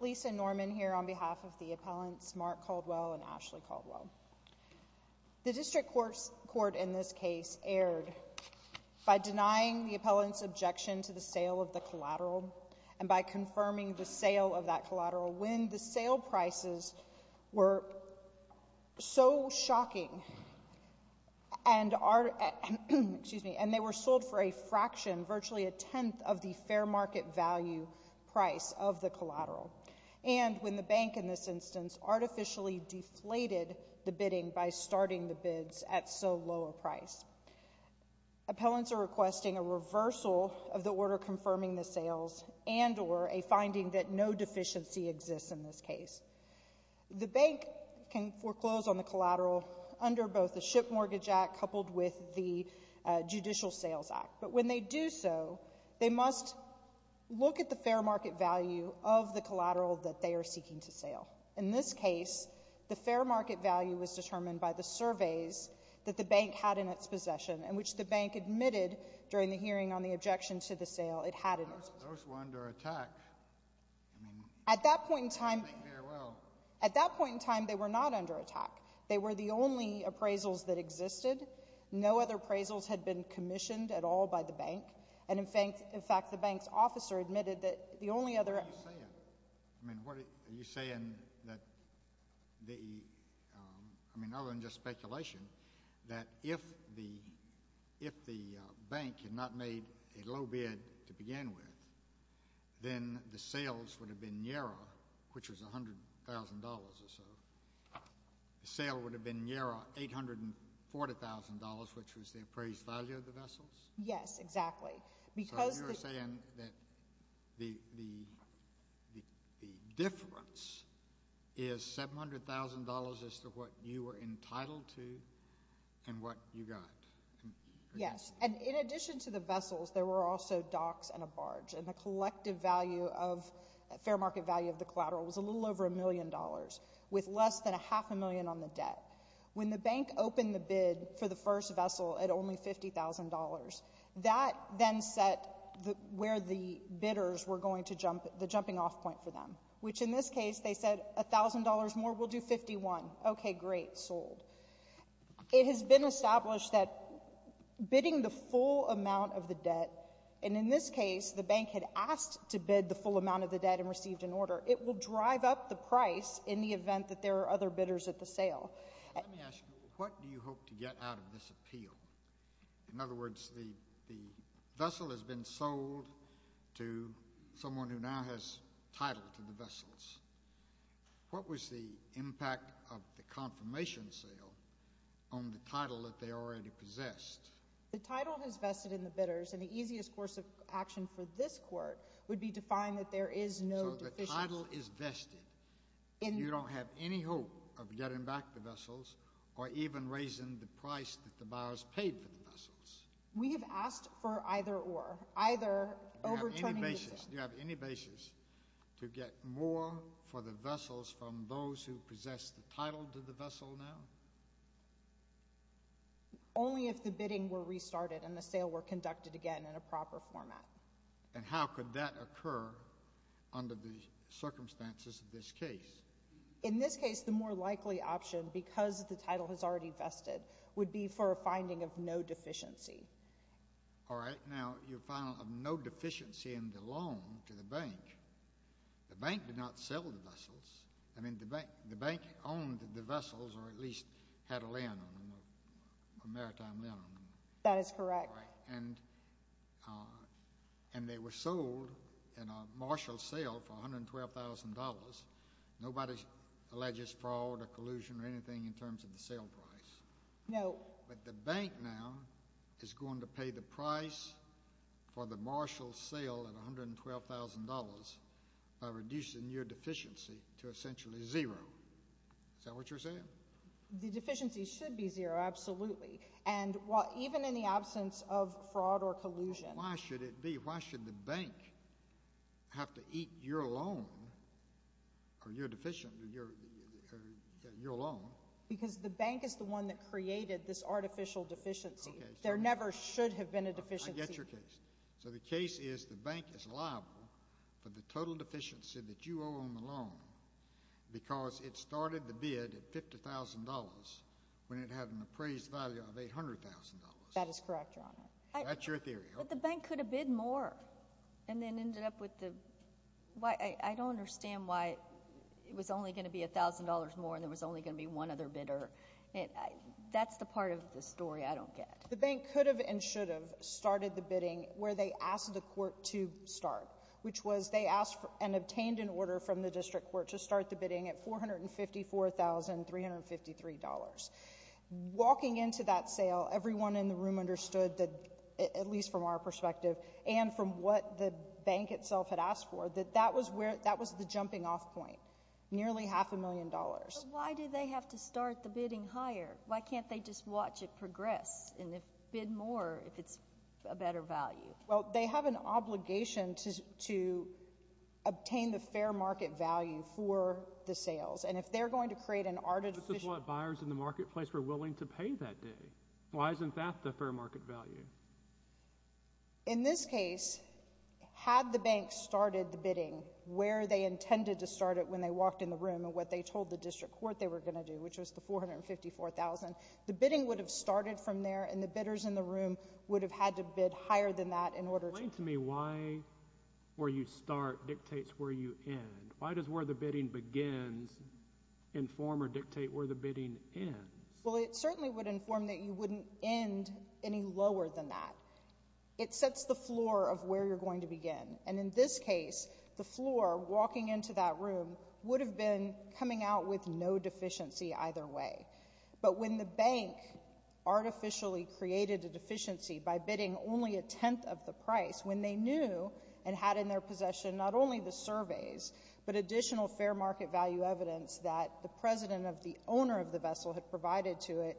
Lisa Norman here on behalf of the appellants Mark Caldwell and Ashley Caldwell. The district court in this case erred by denying the appellant's objection to the sale of the collateral and by confirming the sale of that collateral when the sale prices were so shocking and they were sold for a fraction virtually a tenth of the fair market value price of the collateral and when the bank in this instance artificially deflated the bidding by starting the bids at so low a price. Appellants are requesting a reversal of the order confirming the sales and or a finding that no deficiency exists in this case. The bank can foreclose on the collateral under both the Ship Mortgage Act coupled with the Judicial Sales Act but when they do so they must look at the fair market value of the collateral that they are seeking to sale. In this case the fair market value was determined by the surveys that the bank had in its possession and which the bank admitted during the hearing on the objection to the sale it had in its possession. At that point in time they were not under attack. They were the only appraisals that existed. No other appraisals had been commissioned at all by the bank and in fact the bank's officer admitted that the only other... What are you saying? I mean other than just speculation that if the if the bank had not made a low bid to begin with then the sales would have been nearer which was a hundred thousand dollars or so. The sale would have been nearer $840,000 which was the appraised value of the vessels? Yes exactly because... So you're saying that the difference is $700,000 as to what you were entitled to and what you got? Yes and in addition to the vessels there were also docks and a barge and the collective value of fair market value of the collateral was a little over a half a million on the debt. When the bank opened the bid for the first vessel at only $50,000 that then set the where the bidders were going to jump the jumping off point for them which in this case they said a thousand dollars more will do 51. Okay great sold. It has been established that bidding the full amount of the debt and in this case the bank had asked to bid the full amount of the debt and received an order it will drive up the price in the event that there are other bidders at the sale. Let me ask you, what do you hope to get out of this appeal? In other words the the vessel has been sold to someone who now has title to the vessels. What was the impact of the confirmation sale on the title that they already possessed? The title is vested in the bidders and the easiest course of action for this court would be to find that there is no... So the title is vested and you don't have any hope of getting back the vessels or even raising the price that the buyers paid for the vessels. We have asked for either or. Either overturning the sale. Do you have any basis to get more for the vessels from those who possess the title to the vessel now? Only if the bidding were restarted and the sale were conducted again in a proper format. And how could that occur under the circumstances of this case? In this case the more likely option because the title has already vested would be for a finding of no deficiency. All right now you found no deficiency in the loan to the bank. The bank did not sell the vessels. I mean the bank owned the vessels or at least had a land. That is correct. And they were sold in a marshal sale for $112,000. Nobody alleges fraud or collusion or anything in terms of the sale price. No. But the bank now is going to pay the price for the marshal sale at $112,000 by reducing your deficiency to essentially zero. Is that what you're saying? The deficiency should be zero, absolutely. And even in the absence of fraud or collusion... Why should it be? Why should the bank have to eat your loan or your deficiency, your loan? Because the bank is the one that created this artificial deficiency. There never should have been a deficiency. I get your case. So the case is the bank is liable for the total deficiency that you owe on the loan because it started the bid at $50,000 when it had an appraised value of $800,000. That is correct, Your Honor. But the bank could have bid more and then ended up with the... I don't understand why it was only going to be $1,000 more and there was only going to be one other bidder. That's the part of the story I don't get. The bank could have and should have started the bidding where they asked the court to start, which was they asked and obtained an order from the district court to start the bidding at $454,353. Walking into that sale, everyone in the room understood that, at least from our perspective and from what the bank itself had asked for, that that was the jumping off point, nearly half a million dollars. But why did they have to start the bidding higher? Why can't they just watch it progress and bid more if it's a better value? Well, they have an obligation to obtain the fair market value for the sales. And if they're going to create an artificial... But this is what buyers in the marketplace were willing to pay that day. Why isn't that the fair market value? In this case, had the bank started the bidding where they intended to start it when they walked in the room and what they told the district court they were going to do, which was the $454,000, the bidding would have started from there and the bidders in the room would have had to bid higher than that in order to... Why does where the bidding begins inform or dictate where the bidding ends? Well, it certainly would inform that you wouldn't end any lower than that. It sets the floor of where you're going to begin. And in this case, the floor walking into that room would have been coming out with no deficiency either way. But when the bank artificially created a deficiency by bidding only a tenth of the price, when they knew and had in their possession not only the surveys but additional fair market value evidence that the president of the owner of the vessel had provided to it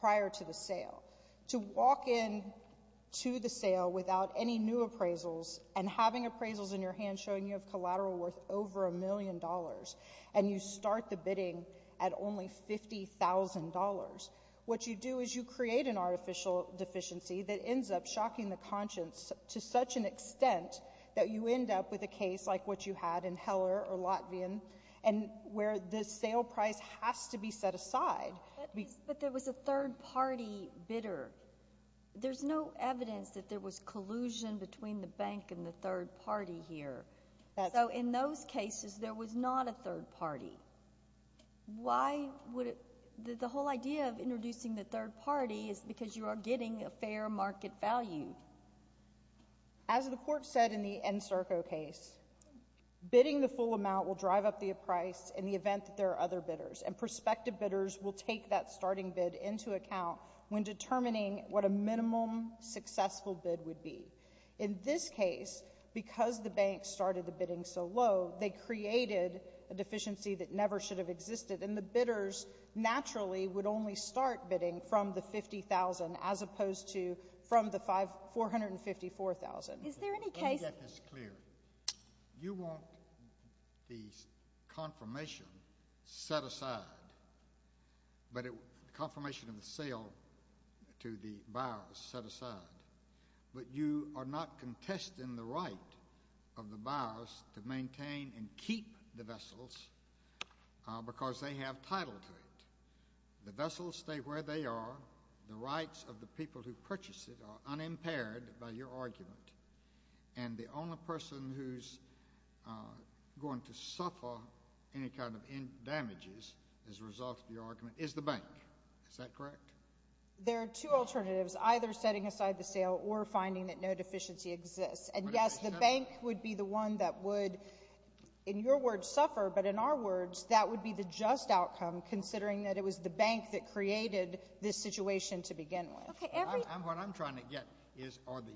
prior to the sale, to walk in to the sale without any new appraisals and having appraisals in your hand showing you have collateral worth over a million dollars and you start the bidding at only $50,000, what you do is you create an artificial deficiency that ends up shocking the conscience to such an extent that you end up with a case like what you had in Heller or Latvian and where the sale price has to be set aside. But there was a third party bidder. There's no evidence that there was collusion between the bank and the third party here. So in those cases, there was not a third party. Why would it — the whole idea of introducing the third party is because you are getting a fair market value. As the Court said in the Encirco case, bidding the full amount will drive up the price in the event that there are other bidders. And prospective bidders will take that starting bid into account when determining what a minimum successful bid would be. In this case, because the bank started the bidding so low, they created a deficiency that never should have existed. And the bidders naturally would only start bidding from the $50,000 as opposed to from the $454,000. Let me get this clear. You want the confirmation set aside, the confirmation of the sale to the buyers set aside, but you are not contesting the right of the buyers to maintain and keep the vessels because they have title to it. The vessels stay where they are. The rights of the people who purchase it are unimpaired by your argument. And the only person who's going to suffer any kind of damages as a result of your argument is the bank. Is that correct? There are two alternatives, either setting aside the sale or finding that no deficiency exists. And, yes, the bank would be the one that would, in your words, suffer. But in our words, that would be the just outcome, considering that it was the bank that created this situation to begin with. What I'm trying to get is are the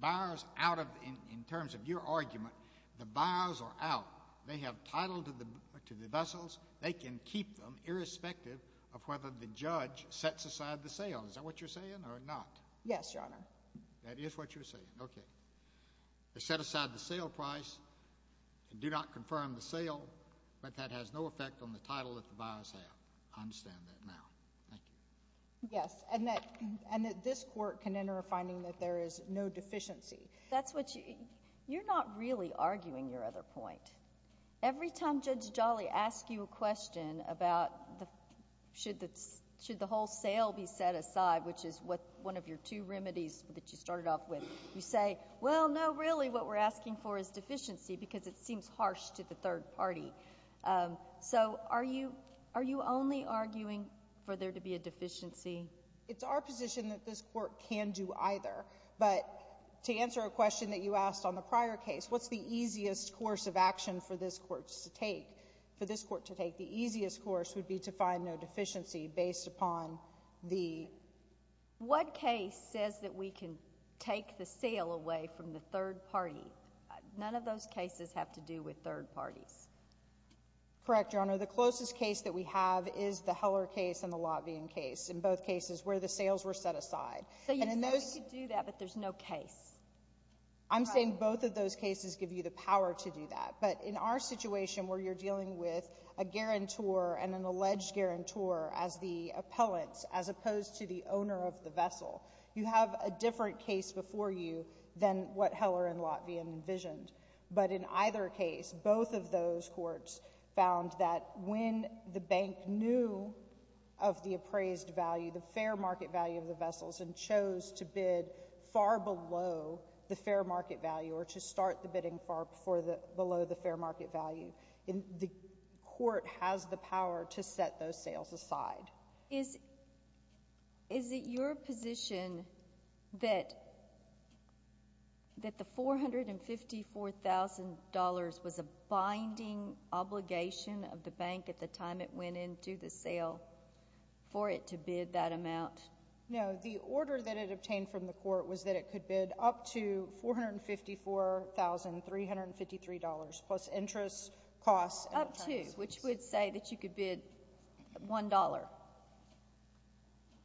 buyers out of—in terms of your argument, the buyers are out. They have title to the vessels. They can keep them, irrespective of whether the judge sets aside the sale. Is that what you're saying or not? Yes, Your Honor. That is what you're saying. Okay. They set aside the sale price and do not confirm the sale, but that has no effect on the title that the buyers have. I understand that now. Thank you. Yes, and that this court can enter a finding that there is no deficiency. That's what you—you're not really arguing your other point. Every time Judge Jolly asks you a question about should the whole sale be set aside, which is one of your two remedies that you started off with, you say, well, no, really, what we're asking for is deficiency because it seems harsh to the third party. So are you only arguing for there to be a deficiency? It's our position that this court can do either, but to answer a question that you asked on the prior case, what's the easiest course of action for this court to take? For this court to take, the easiest course would be to find no deficiency based upon the— What case says that we can take the sale away from the third party? None of those cases have to do with third parties. Correct, Your Honor. The closest case that we have is the Heller case and the Lotvien case, in both cases where the sales were set aside. So you say we could do that, but there's no case. I'm saying both of those cases give you the power to do that, but in our situation where you're dealing with a guarantor and an alleged guarantor as the appellants as opposed to the owner of the vessel, you have a different case before you than what Heller and Lotvien envisioned. But in either case, both of those courts found that when the bank knew of the appraised value, the fair market value of the vessels, and chose to bid far below the fair market value or to start the bidding far below the fair market value, the court has the power to set those sales aside. Is it your position that the $454,000 was a binding obligation of the bank at the time it went into the sale for it to bid that amount? No. The order that it obtained from the court was that it could bid up to $454,353 plus interest costs. Up to, which would say that you could bid $1.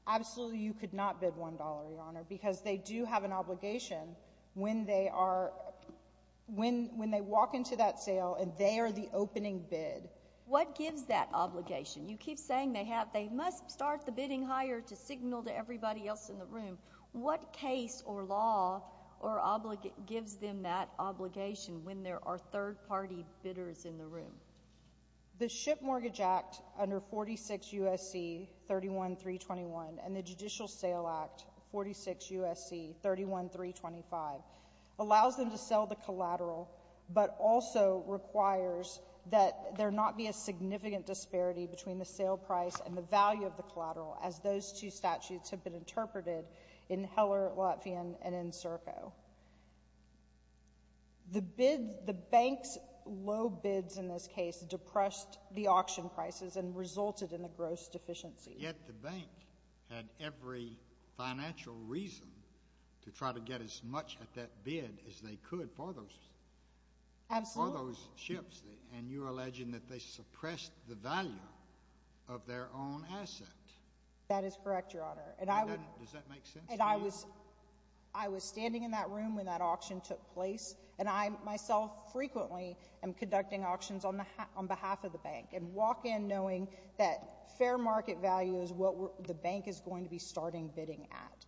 Absolutely you could not bid $1, Your Honor, because they do have an obligation when they are — when they walk into that sale and they are the opening bid. What gives that obligation? You keep saying they have — they must start the bidding higher to signal to everybody else in the room. What case or law gives them that obligation when there are third-party bidders in the room? The Ship Mortgage Act under 46 U.S.C. 31321 and the Judicial Sale Act, 46 U.S.C. 31325, allows them to sell the collateral but also requires that there not be a significant disparity between the sale price and the value of the collateral, as those two statutes have been interpreted in Heller, Latvian, and in Serco. The bid — the bank's low bids in this case depressed the auction prices and resulted in a gross deficiency. Yet the bank had every financial reason to try to get as much at that bid as they could for those — Absolutely. — for those ships, and you're alleging that they suppressed the value of their own asset. That is correct, Your Honor, and I would — Does that make sense to you? I was standing in that room when that auction took place, and I, myself, frequently am conducting auctions on behalf of the bank and walk in knowing that fair market value is what the bank is going to be starting bidding at.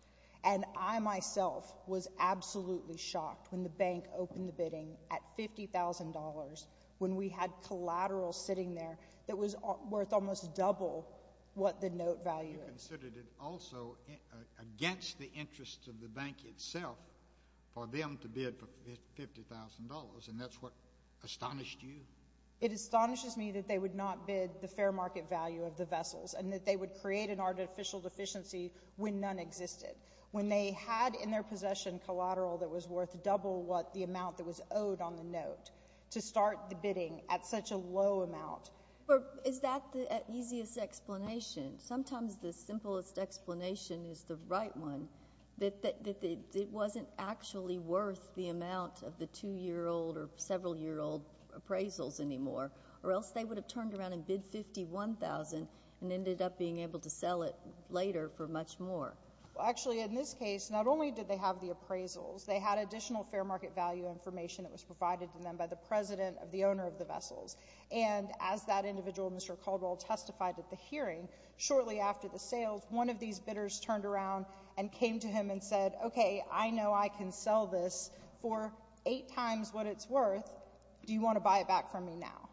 And I, myself, was absolutely shocked when the bank opened the bidding at $50,000 when we had collateral sitting there that was worth almost double what the note value is. You considered it also against the interests of the bank itself for them to bid for $50,000, and that's what astonished you? It astonishes me that they would not bid the fair market value of the vessels and that they would create an artificial deficiency when none existed. When they had in their possession collateral that was worth double what the amount that was owed on the note to start the bidding at such a low amount — Well, is that the easiest explanation? Sometimes the simplest explanation is the right one, that it wasn't actually worth the amount of the 2-year-old or several-year-old appraisals anymore, or else they would have turned around and bid $51,000 and ended up being able to sell it later for much more. Well, actually, in this case, not only did they have the appraisals, they had additional fair market value information that was provided to them by the president of the owner of the vessels. And as that individual, Mr. Caldwell, testified at the hearing, shortly after the sales, one of these bidders turned around and came to him and said, OK, I know I can sell this for eight times what it's worth. Do you want to buy it back from me now?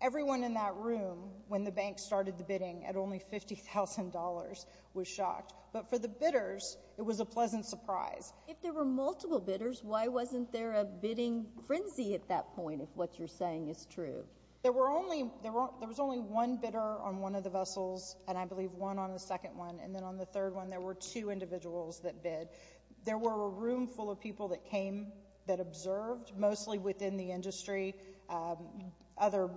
Everyone in that room, when the bank started the bidding at only $50,000, was shocked. But for the bidders, it was a pleasant surprise. If there were multiple bidders, why wasn't there a bidding frenzy at that point, if what you're saying is true? There was only one bidder on one of the vessels, and I believe one on the second one, and then on the third one, there were two individuals that bid. There were a roomful of people that came that observed, mostly within the industry, other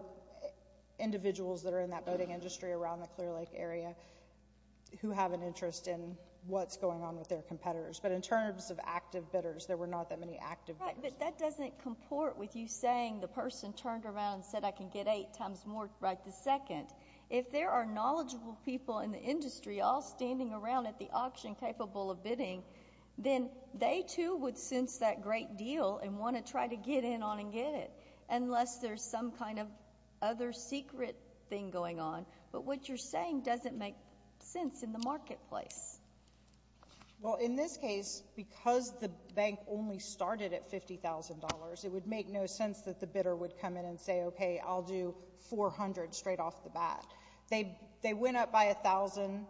individuals that are in that boating industry around the Clear Lake area, who have an interest in what's going on with their competitors. But in terms of active bidders, there were not that many active bidders. Right, but that doesn't comport with you saying the person turned around and said, I can get eight times more right this second. If there are knowledgeable people in the industry all standing around at the auction capable of bidding, then they, too, would sense that great deal and want to try to get in on and get it, unless there's some kind of other secret thing going on. But what you're saying doesn't make sense in the marketplace. Well, in this case, because the bank only started at $50,000, it would make no sense that the bidder would come in and say, okay, I'll do $400,000 straight off the bat. They went up by $1,000,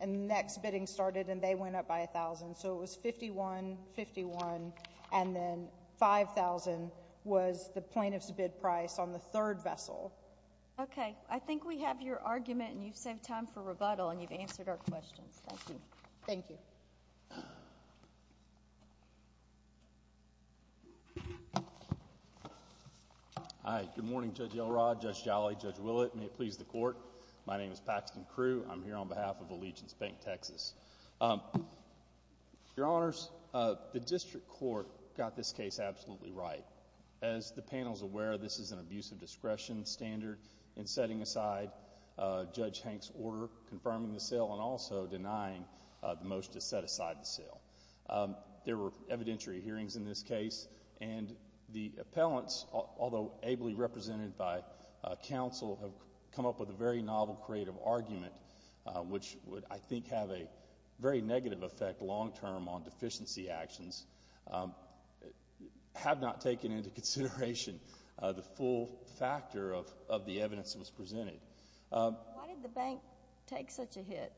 and the next bidding started, and they went up by $1,000. So it was $51,000, $51,000, and then $5,000 was the plaintiff's bid price on the third vessel. Okay. I think we have your argument, and you've saved time for rebuttal, and you've answered our questions. Thank you. Thank you. Hi. Good morning, Judge Elrod, Judge Jolly, Judge Willett. May it please the Court. My name is Paxton Crew. I'm here on behalf of Allegiance Bank, Texas. Your Honors, the district court got this case absolutely right. As the panel is aware, this is an abuse of discretion standard in setting aside Judge Hank's order confirming the sale and also denying the motion to set aside the sale. There were evidentiary hearings in this case, and the appellants, although ably represented by counsel, have come up with a very novel, creative argument, which would, I think, have a very negative effect long term on deficiency actions. Have not taken into consideration the full factor of the evidence that was presented. Why did the bank take such a hit?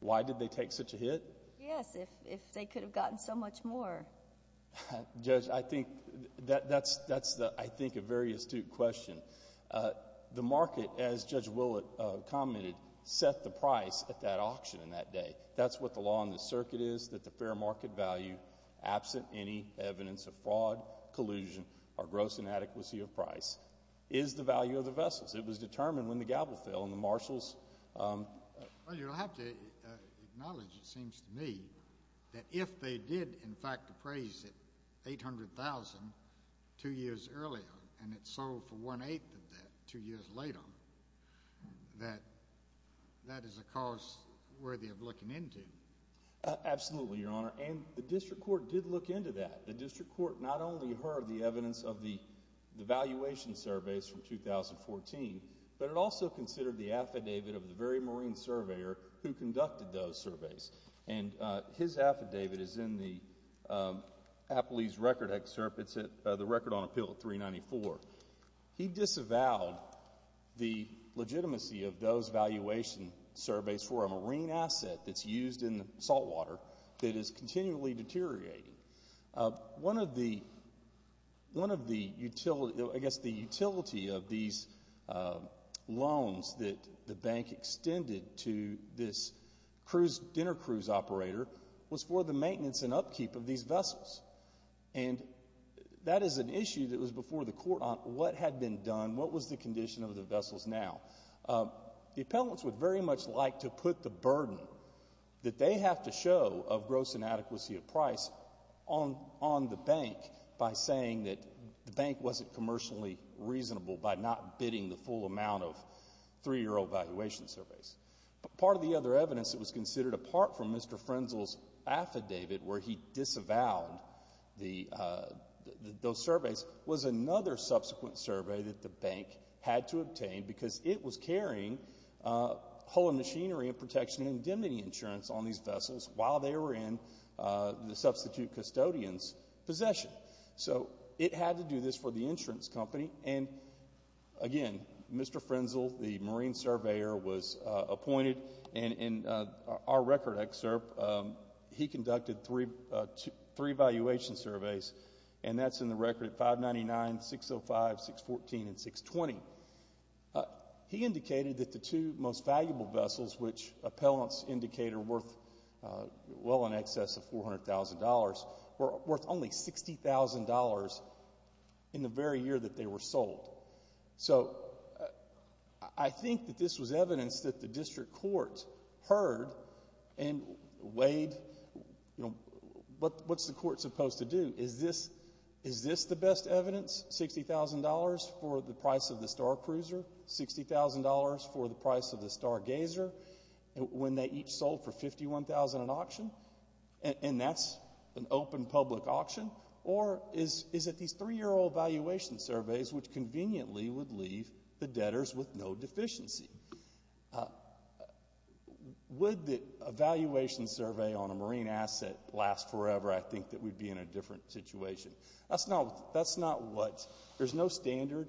Why did they take such a hit? Yes, if they could have gotten so much more. Judge, I think that's, I think, a very astute question. The market, as Judge Willett commented, set the price at that auction in that day. That's what the law in this circuit is, that the fair market value, absent any evidence of fraud, collusion, or gross inadequacy of price, is the value of the vessels. It was determined when the gavel fell and the marshals. Well, you'll have to acknowledge, it seems to me, that if they did, in fact, appraise it $800,000 two years earlier and it sold for one-eighth of that two years later, that that is a cause worthy of looking into. Absolutely, Your Honor. And the district court did look into that. The district court not only heard the evidence of the valuation surveys from 2014, but it also considered the affidavit of the very marine surveyor who conducted those surveys. And his affidavit is in the Appley's Record Excerpt. It's the Record on Appeal 394. He disavowed the legitimacy of those valuation surveys for a marine asset that's used in the saltwater that is continually deteriorating. One of the utility of these loans that the bank extended to this dinner cruise operator was for the maintenance and upkeep of these vessels. And that is an issue that was before the court on what had been done, what was the condition of the vessels now. The appellants would very much like to put the burden that they have to show of gross inadequacy of price on the bank by saying that the bank wasn't commercially reasonable by not bidding the full amount of three-year old valuation surveys. But part of the other evidence that was considered apart from Mr. Frenzel's affidavit where he disavowed those surveys was another subsequent survey that the bank had to obtain because it was carrying hull and machinery and protection and indemnity insurance on these vessels while they were in the substitute custodian's possession. So it had to do this for the insurance company. And again, Mr. Frenzel, the marine surveyor, was appointed. And in our record excerpt, he conducted three valuation surveys. And that's in the record at 599, 605, 614, and 620. He indicated that the two most valuable vessels, which appellants indicate are worth well in excess of $400,000, were worth only $60,000 in the very year that they were sold. So I think that this was evidence that the district court heard and weighed, you know, what's the court supposed to do? Is this the best evidence, $60,000 for the price of the Star Cruiser, $60,000 for the price of the Star Gazer, when they each sold for $51,000 at auction, and that's an open public auction? Or is it these three-year-old valuation surveys, which conveniently would leave the debtors with no deficiency? Would the valuation survey on a marine asset last forever? I think that we'd be in a different situation. That's not what – there's no standard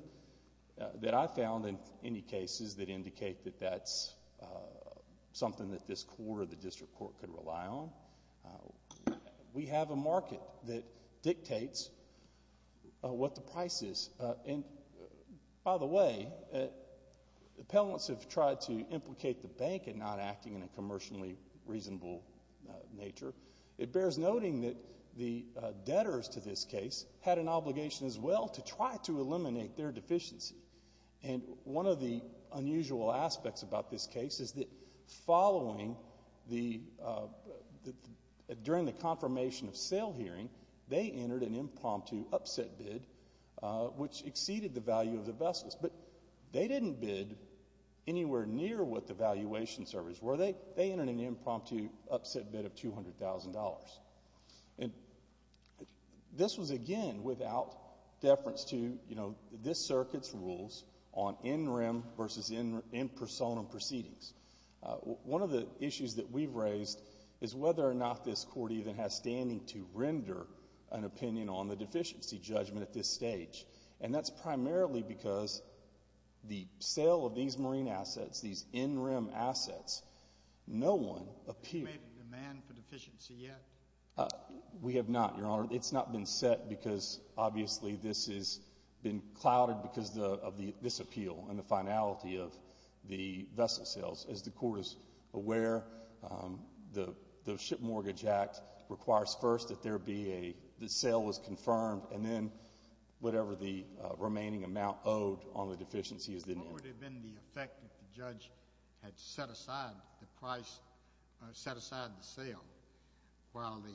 that I found in any cases that indicate that that's something that this court or the district court could rely on. We have a market that dictates what the price is. And by the way, appellants have tried to implicate the bank in not acting in a commercially reasonable nature. It bears noting that the debtors to this case had an obligation as well to try to eliminate their deficiency. And one of the unusual aspects about this case is that following the – during the confirmation of sale hearing, they entered an impromptu upset bid, which exceeded the value of the vessels. But they didn't bid anywhere near what the valuation surveys were. They entered an impromptu upset bid of $200,000. And this was, again, without deference to, you know, this circuit's rules on in-rim versus in-personam proceedings. One of the issues that we've raised is whether or not this court even has standing to render an opinion on the deficiency judgment at this stage. And that's primarily because the sale of these marine assets, these in-rim assets, no one appeared. Have you made a demand for deficiency yet? We have not, Your Honor. It's not been set because obviously this has been clouded because of this appeal and the finality of the vessel sales. As the court is aware, the Ship Mortgage Act requires first that there be a – that sale was confirmed and then whatever the remaining amount owed on the deficiency is then – What would have been the effect if the judge had set aside the price – set aside the sale while the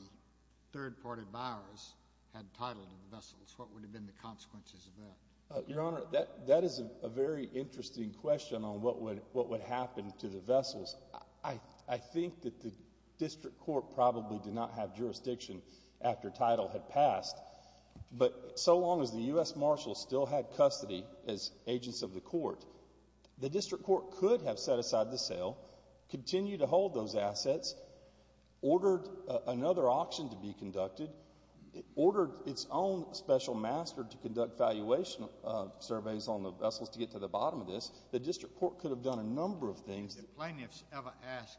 third-party buyers had title to the vessels? What would have been the consequences of that? Your Honor, that is a very interesting question on what would happen to the vessels. I think that the district court probably did not have jurisdiction after title had passed. But so long as the U.S. Marshals still had custody as agents of the court, the district court could have set aside the sale, continued to hold those assets, ordered another auction to be conducted, ordered its own special master to conduct valuation surveys on the vessels to get to the bottom of this. The district court could have done a number of things. Did plaintiffs ever ask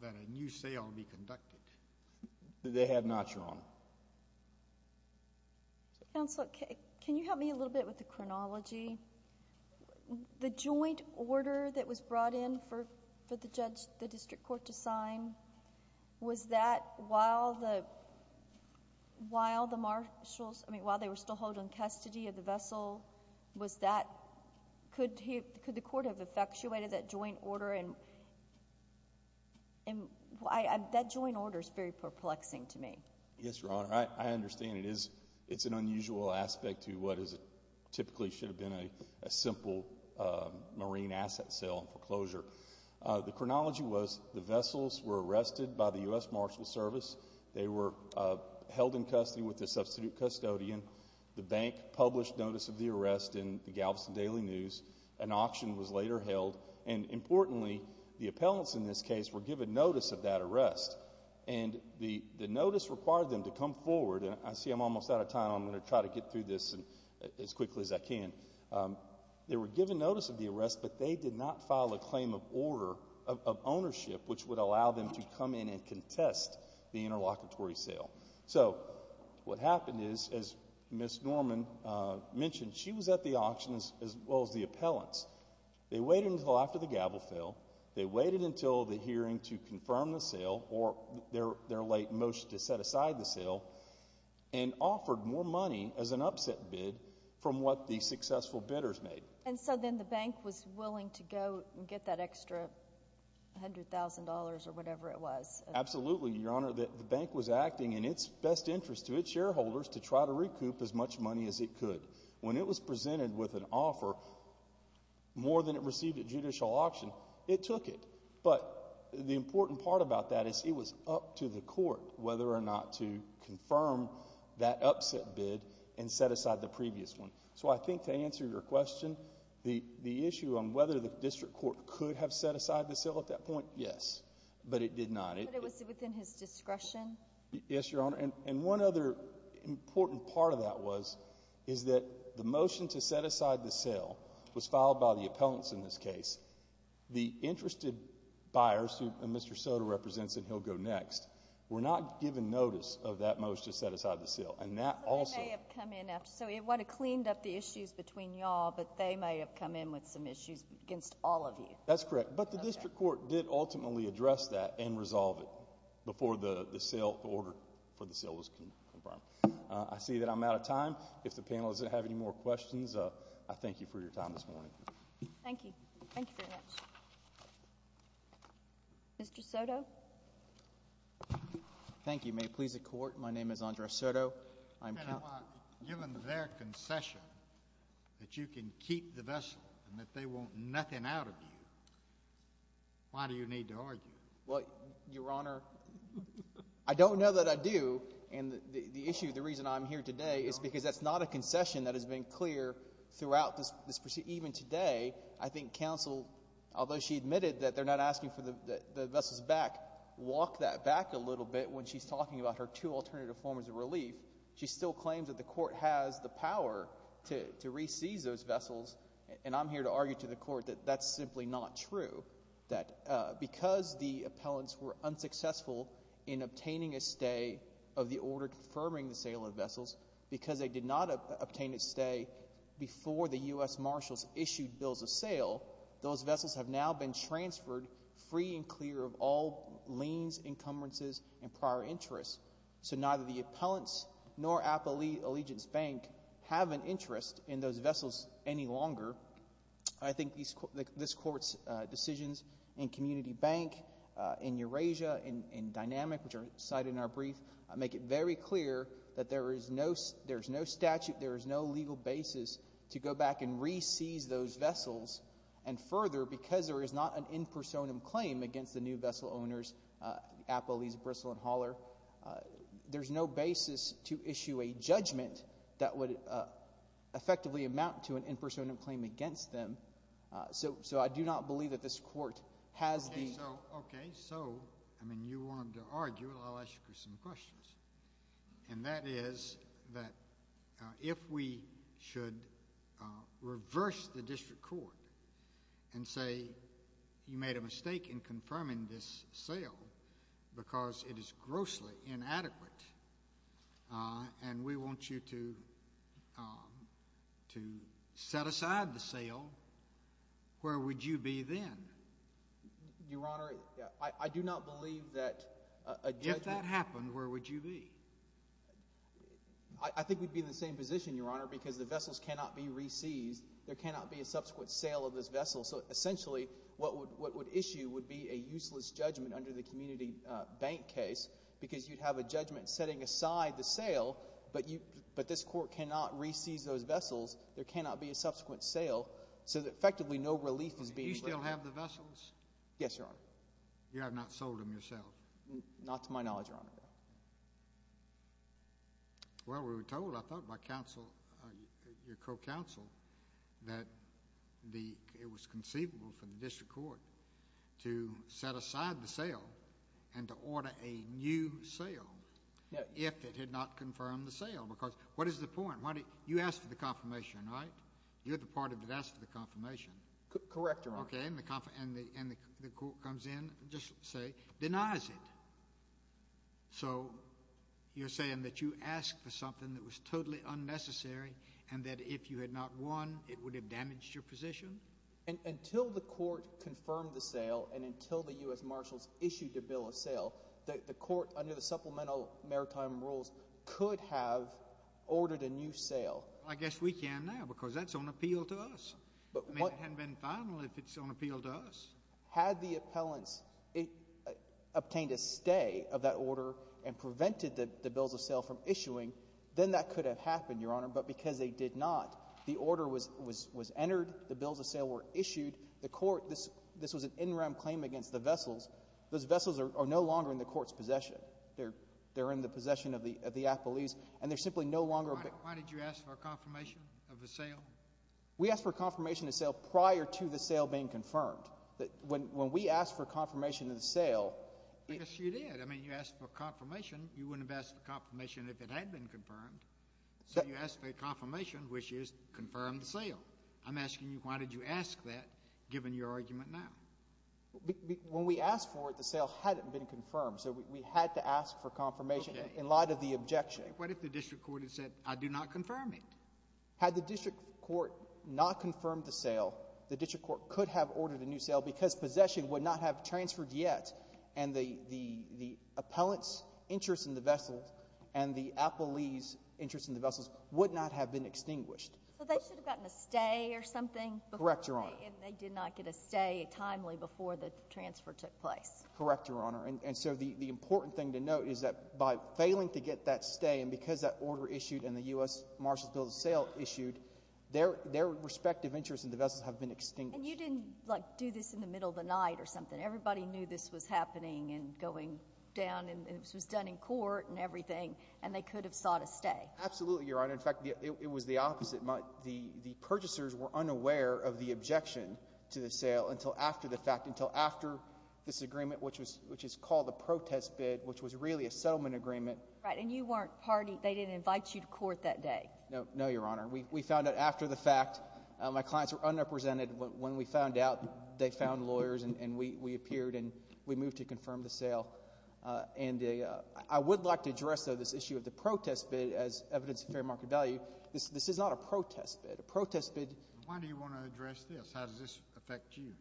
that a new sale be conducted? They have not, Your Honor. Counsel, can you help me a little bit with the chronology? The joint order that was brought in for the district court to sign, was that while the marshals – I mean, while they were still holding custody of the vessel, was that – could the court have effectuated that joint order? And that joint order is very perplexing to me. Yes, Your Honor. I understand. It's an unusual aspect to what typically should have been a simple marine asset sale and foreclosure. The chronology was the vessels were arrested by the U.S. Marshals Service. They were held in custody with the substitute custodian. The bank published notice of the arrest in the Galveston Daily News. An auction was later held. And importantly, the appellants in this case were given notice of that arrest. And the notice required them to come forward. I see I'm almost out of time. I'm going to try to get through this as quickly as I can. They were given notice of the arrest, but they did not file a claim of order of ownership, which would allow them to come in and contest the interlocutory sale. So what happened is, as Ms. Norman mentioned, she was at the auction as well as the appellants. They waited until after the gavel fell. They waited until the hearing to confirm the sale or their late motion to set aside the sale and offered more money as an upset bid from what the successful bidders made. And so then the bank was willing to go and get that extra $100,000 or whatever it was. Absolutely, Your Honor. The bank was acting in its best interest to its shareholders to try to recoup as much money as it could. When it was presented with an offer more than it received at judicial auction, it took it. But the important part about that is it was up to the court whether or not to confirm that upset bid and set aside the previous one. So I think to answer your question, the issue on whether the district court could have set aside the sale at that point, yes. But it did not. But it was within his discretion? Yes, Your Honor. And one other important part of that was is that the motion to set aside the sale was filed by the appellants in this case. The interested buyers, who Mr. Soto represents and he'll go next, were not given notice of that motion to set aside the sale. And that also— So they may have come in after. So it would have cleaned up the issues between you all, but they may have come in with some issues against all of you. That's correct. But the district court did ultimately address that and resolve it before the sale order for the sale was confirmed. I see that I'm out of time. If the panel doesn't have any more questions, I thank you for your time this morning. Thank you. Thank you very much. Mr. Soto? Thank you. May it please the Court, my name is Andres Soto. Given their concession that you can keep the vessel and that they want nothing out of you, why do you need to argue? Well, Your Honor, I don't know that I do. And the issue, the reason I'm here today is because that's not a concession that has been clear throughout this proceeding. Even today, I think counsel, although she admitted that they're not asking for the vessel's back, walk that back a little bit when she's talking about her two alternative forms of relief. She still claims that the Court has the power to re-seize those vessels, and I'm here to argue to the Court that that's simply not true, that because the appellants were unsuccessful in obtaining a stay of the order confirming the sale of the vessels, because they did not obtain a stay before the U.S. Marshals issued bills of sale, those vessels have now been transferred free and clear of all liens, encumbrances, and prior interests. So neither the appellants nor Appalachian Allegiance Bank have an interest in those vessels any longer. I think this Court's decisions in Community Bank, in Eurasia, in Dynamic, which are cited in our brief, make it very clear that there is no statute, there is no legal basis to go back and re-seize those vessels. And further, because there is not an in personam claim against the new vessel owners, Appalese, Bristol, and Holler, there's no basis to issue a judgment that would effectively amount to an in personam claim against them. So I do not believe that this Court has the— So, okay, so, I mean, you wanted to argue it. I'll ask you some questions. And that is that if we should reverse the district court and say you made a mistake in confirming this sale because it is grossly inadequate and we want you to set aside the sale, where would you be then? Your Honor, I do not believe that a judgment— If that happened, where would you be? I think we'd be in the same position, Your Honor, because the vessels cannot be re-seized. There cannot be a subsequent sale of this vessel. So essentially what would issue would be a useless judgment under the Community Bank case because you'd have a judgment setting aside the sale, but this Court cannot re-seize those vessels. There cannot be a subsequent sale. So effectively no relief is being— Do you still have the vessels? Yes, Your Honor. You have not sold them yourself? Not to my knowledge, Your Honor. Well, we were told, I thought, by your co-counsel that it was conceivable for the district court to set aside the sale and to order a new sale if it had not confirmed the sale. Because what is the point? You asked for the confirmation, right? You're the part that asked for the confirmation. Correct, Your Honor. Okay, and the court comes in, just say denies it. So you're saying that you asked for something that was totally unnecessary and that if you had not won, it would have damaged your position? Until the court confirmed the sale and until the U.S. Marshals issued a bill of sale, the court, under the supplemental maritime rules, could have ordered a new sale. I guess we can now because that's on appeal to us. I mean, it hadn't been final if it's on appeal to us. Had the appellants obtained a stay of that order and prevented the bills of sale from issuing, then that could have happened, Your Honor, but because they did not, the order was entered, the bills of sale were issued, the court, this was an in-rem claim against the vessels. Those vessels are no longer in the court's possession. They're in the possession of the appellees, and they're simply no longer. Why did you ask for a confirmation of the sale? We asked for a confirmation of the sale prior to the sale being confirmed. When we asked for a confirmation of the sale— Yes, you did. I mean, you asked for confirmation. You wouldn't have asked for confirmation if it had been confirmed. So you asked for a confirmation, which is confirm the sale. I'm asking you why did you ask that given your argument now? When we asked for it, the sale hadn't been confirmed, so we had to ask for confirmation in light of the objection. What if the district court had said, I do not confirm it? Had the district court not confirmed the sale, the district court could have ordered a new sale because possession would not have transferred yet, and the appellant's interest in the vessels and the appellee's interest in the vessels would not have been extinguished. So they should have gotten a stay or something? Correct, Your Honor. They did not get a stay timely before the transfer took place. Correct, Your Honor. And so the important thing to note is that by failing to get that stay and because that order issued and the U.S. Marshals Bill of Sale issued, their respective interests in the vessels have been extinguished. And you didn't, like, do this in the middle of the night or something. Everybody knew this was happening and going down and this was done in court and everything, and they could have sought a stay. Absolutely, Your Honor. In fact, it was the opposite. The purchasers were unaware of the objection to the sale until after the fact, until after this agreement, which is called a protest bid, which was really a settlement agreement. Right, and you weren't party. They didn't invite you to court that day. No, Your Honor. We found out after the fact. My clients were underrepresented. When we found out, they found lawyers and we appeared and we moved to confirm the sale. And I would like to address, though, this issue of the protest bid as evidence of fair market value. This is not a protest bid. A protest bid— Why do you want to address this? How does this affect you?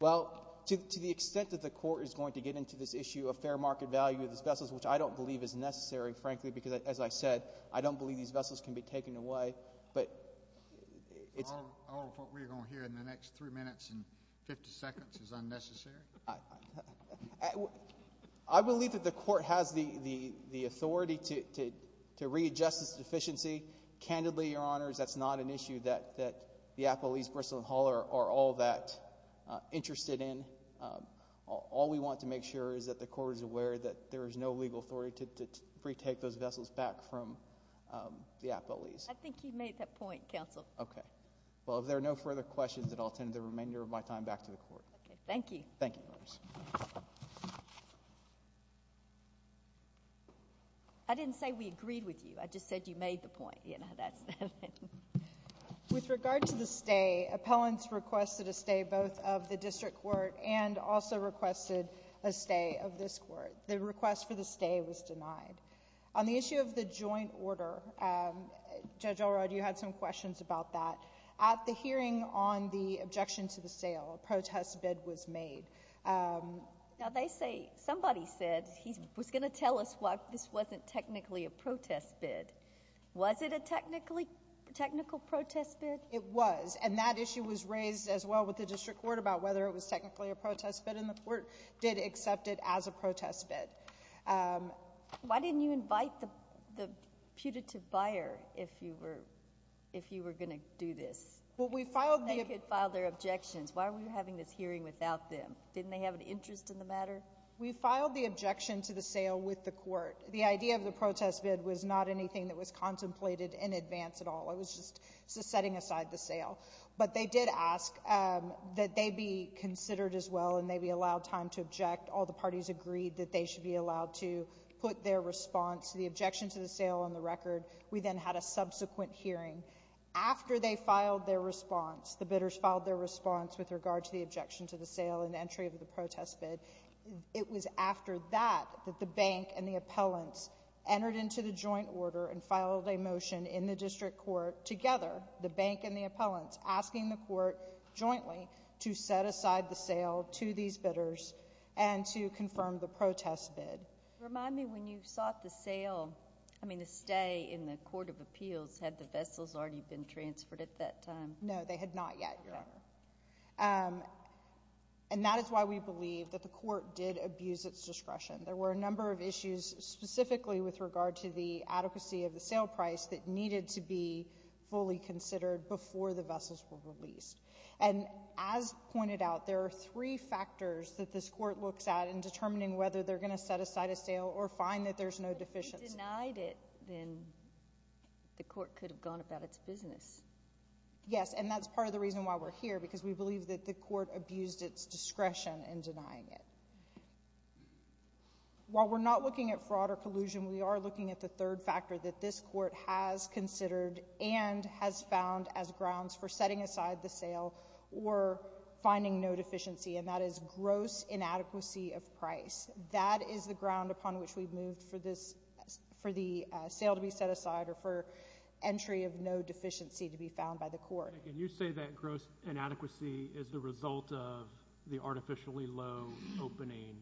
Well, to the extent that the court is going to get into this issue of fair market value of the vessels, which I don't believe is necessary, frankly, because, as I said, I don't believe these vessels can be taken away. But it's— All of what we're going to hear in the next three minutes and 50 seconds is unnecessary? I believe that the court has the authority to readjust this deficiency. Candidly, Your Honors, that's not an issue that the Apple East Bristol & Hall are all that interested in. All we want to make sure is that the court is aware that there is no legal authority to retake those vessels back from the Apple East. I think you made that point, counsel. Okay. Well, if there are no further questions, then I'll attend the remainder of my time back to the court. Okay. Thank you. Thank you, Your Honors. I didn't say we agreed with you. I just said you made the point. With regard to the stay, appellants requested a stay both of the district court and also requested a stay of this court. The request for the stay was denied. On the issue of the joint order, Judge Elrod, you had some questions about that. At the hearing on the objection to the sale, a protest bid was made. Now, they say—somebody said he was going to tell us why this wasn't technically a protest bid. Was it a technically—technical protest bid? It was, and that issue was raised as well with the district court about whether it was technically a protest bid, and the court did accept it as a protest bid. Why didn't you invite the putative buyer if you were going to do this? Well, we filed the— They could file their objections. Why were you having this hearing without them? Didn't they have an interest in the matter? We filed the objection to the sale with the court. The idea of the protest bid was not anything that was contemplated in advance at all. It was just setting aside the sale. But they did ask that they be considered as well and they be allowed time to object. All the parties agreed that they should be allowed to put their response to the objection to the sale on the record. We then had a subsequent hearing. After they filed their response, the bidders filed their response with regard to the objection to the sale and entry of the protest bid. It was after that that the bank and the appellants entered into the joint order and filed a motion in the district court together, the bank and the appellants, asking the court jointly to set aside the sale to these bidders and to confirm the protest bid. Remind me, when you sought the sale, I mean the stay in the court of appeals, had the vessels already been transferred at that time? And that is why we believe that the court did abuse its discretion. There were a number of issues specifically with regard to the adequacy of the sale price that needed to be fully considered before the vessels were released. And as pointed out, there are three factors that this court looks at in determining whether they're going to set aside a sale or find that there's no deficiency. But if you denied it, then the court could have gone about its business. Yes, and that's part of the reason why we're here, because we believe that the court abused its discretion in denying it. While we're not looking at fraud or collusion, we are looking at the third factor that this court has considered and has found as grounds for setting aside the sale or finding no deficiency, and that is gross inadequacy of price. That is the ground upon which we've moved for the sale to be set aside or for entry of no deficiency to be found by the court. And you say that gross inadequacy is the result of the artificially low opening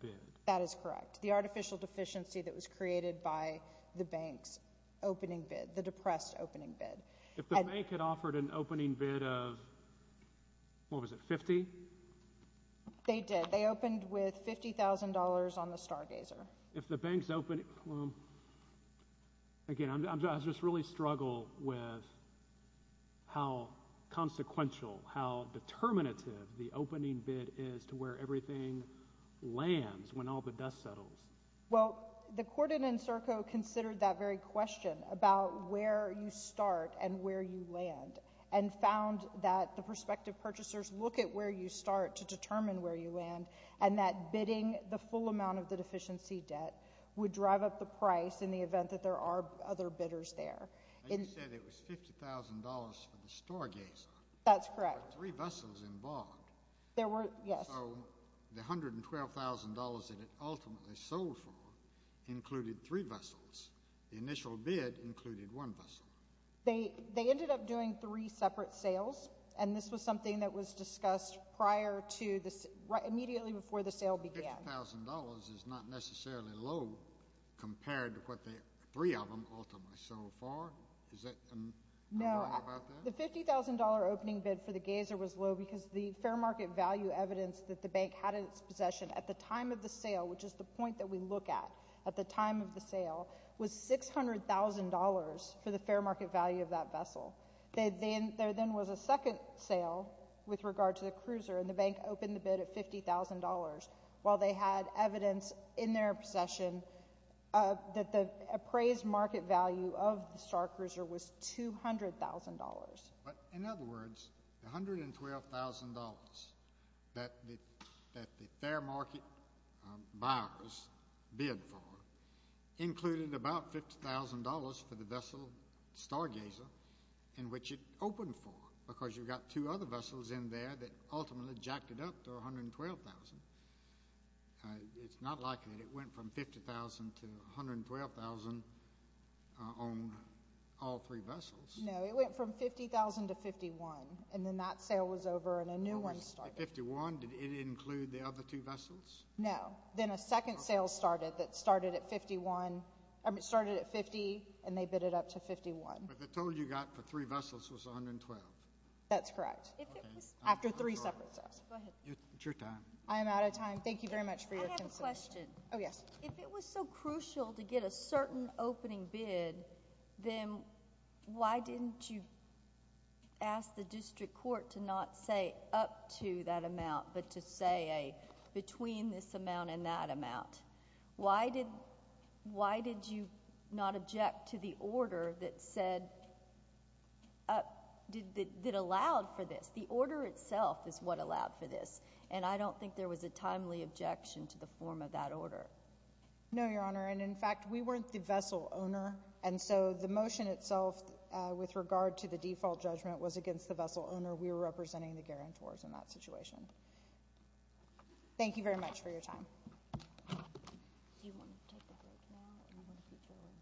bid. That is correct. The artificial deficiency that was created by the bank's opening bid, the depressed opening bid. If the bank had offered an opening bid of, what was it, 50? They did. They opened with $50,000 on the Stargazer. If the bank's opening—again, I just really struggle with how consequential, how determinative the opening bid is to where everything lands when all the dust settles. Well, the court in Encirco considered that very question about where you start and where you land and found that the prospective purchasers look at where you start to determine where you land and that bidding the full amount of the deficiency debt would drive up the price in the event that there are other bidders there. And you said it was $50,000 for the Stargazer. That's correct. There were three vessels involved. There were—yes. So the $112,000 that it ultimately sold for included three vessels. The initial bid included one vessel. They ended up doing three separate sales, and this was something that was discussed prior to—immediately before the sale began. $50,000 is not necessarily low compared to what the three of them ultimately sold for. Is that—I don't know about that. The $50,000 opening bid for the Gazer was low because the fair market value evidence that the bank had in its possession at the time of the sale, which is the point that we look at at the time of the sale, was $600,000 for the fair market value of that vessel. There then was a second sale with regard to the Cruiser, and the bank opened the bid at $50,000 while they had evidence in their possession that the appraised market value of the Starcruiser was $200,000. In other words, the $112,000 that the fair market buyers bid for included about $50,000 for the vessel Stargazer in which it opened for because you've got two other vessels in there that ultimately jacked it up to $112,000. It's not like it went from $50,000 to $112,000 on all three vessels. No, it went from $50,000 to $51,000, and then that sale was over and a new one started. At $51,000, did it include the other two vessels? No. Then a second sale started that started at $50,000, and they bid it up to $51,000. But the total you got for three vessels was $112,000. That's correct. Okay. After three separate sales. Go ahead. It's your time. I am out of time. Thank you very much for your consideration. I have a question. Oh, yes. If it was so crucial to get a certain opening bid, then why didn't you ask the district court to not say up to that amount but to say between this amount and that amount? Why did you not object to the order that allowed for this? The order itself is what allowed for this, and I don't think there was a timely objection to the form of that order. No, Your Honor, and in fact, we weren't the vessel owner, and so the motion itself with regard to the default judgment was against the vessel owner. We were representing the guarantors in that situation. Thank you very much for your time. Do you want to take a break now? And I'm going to put you away.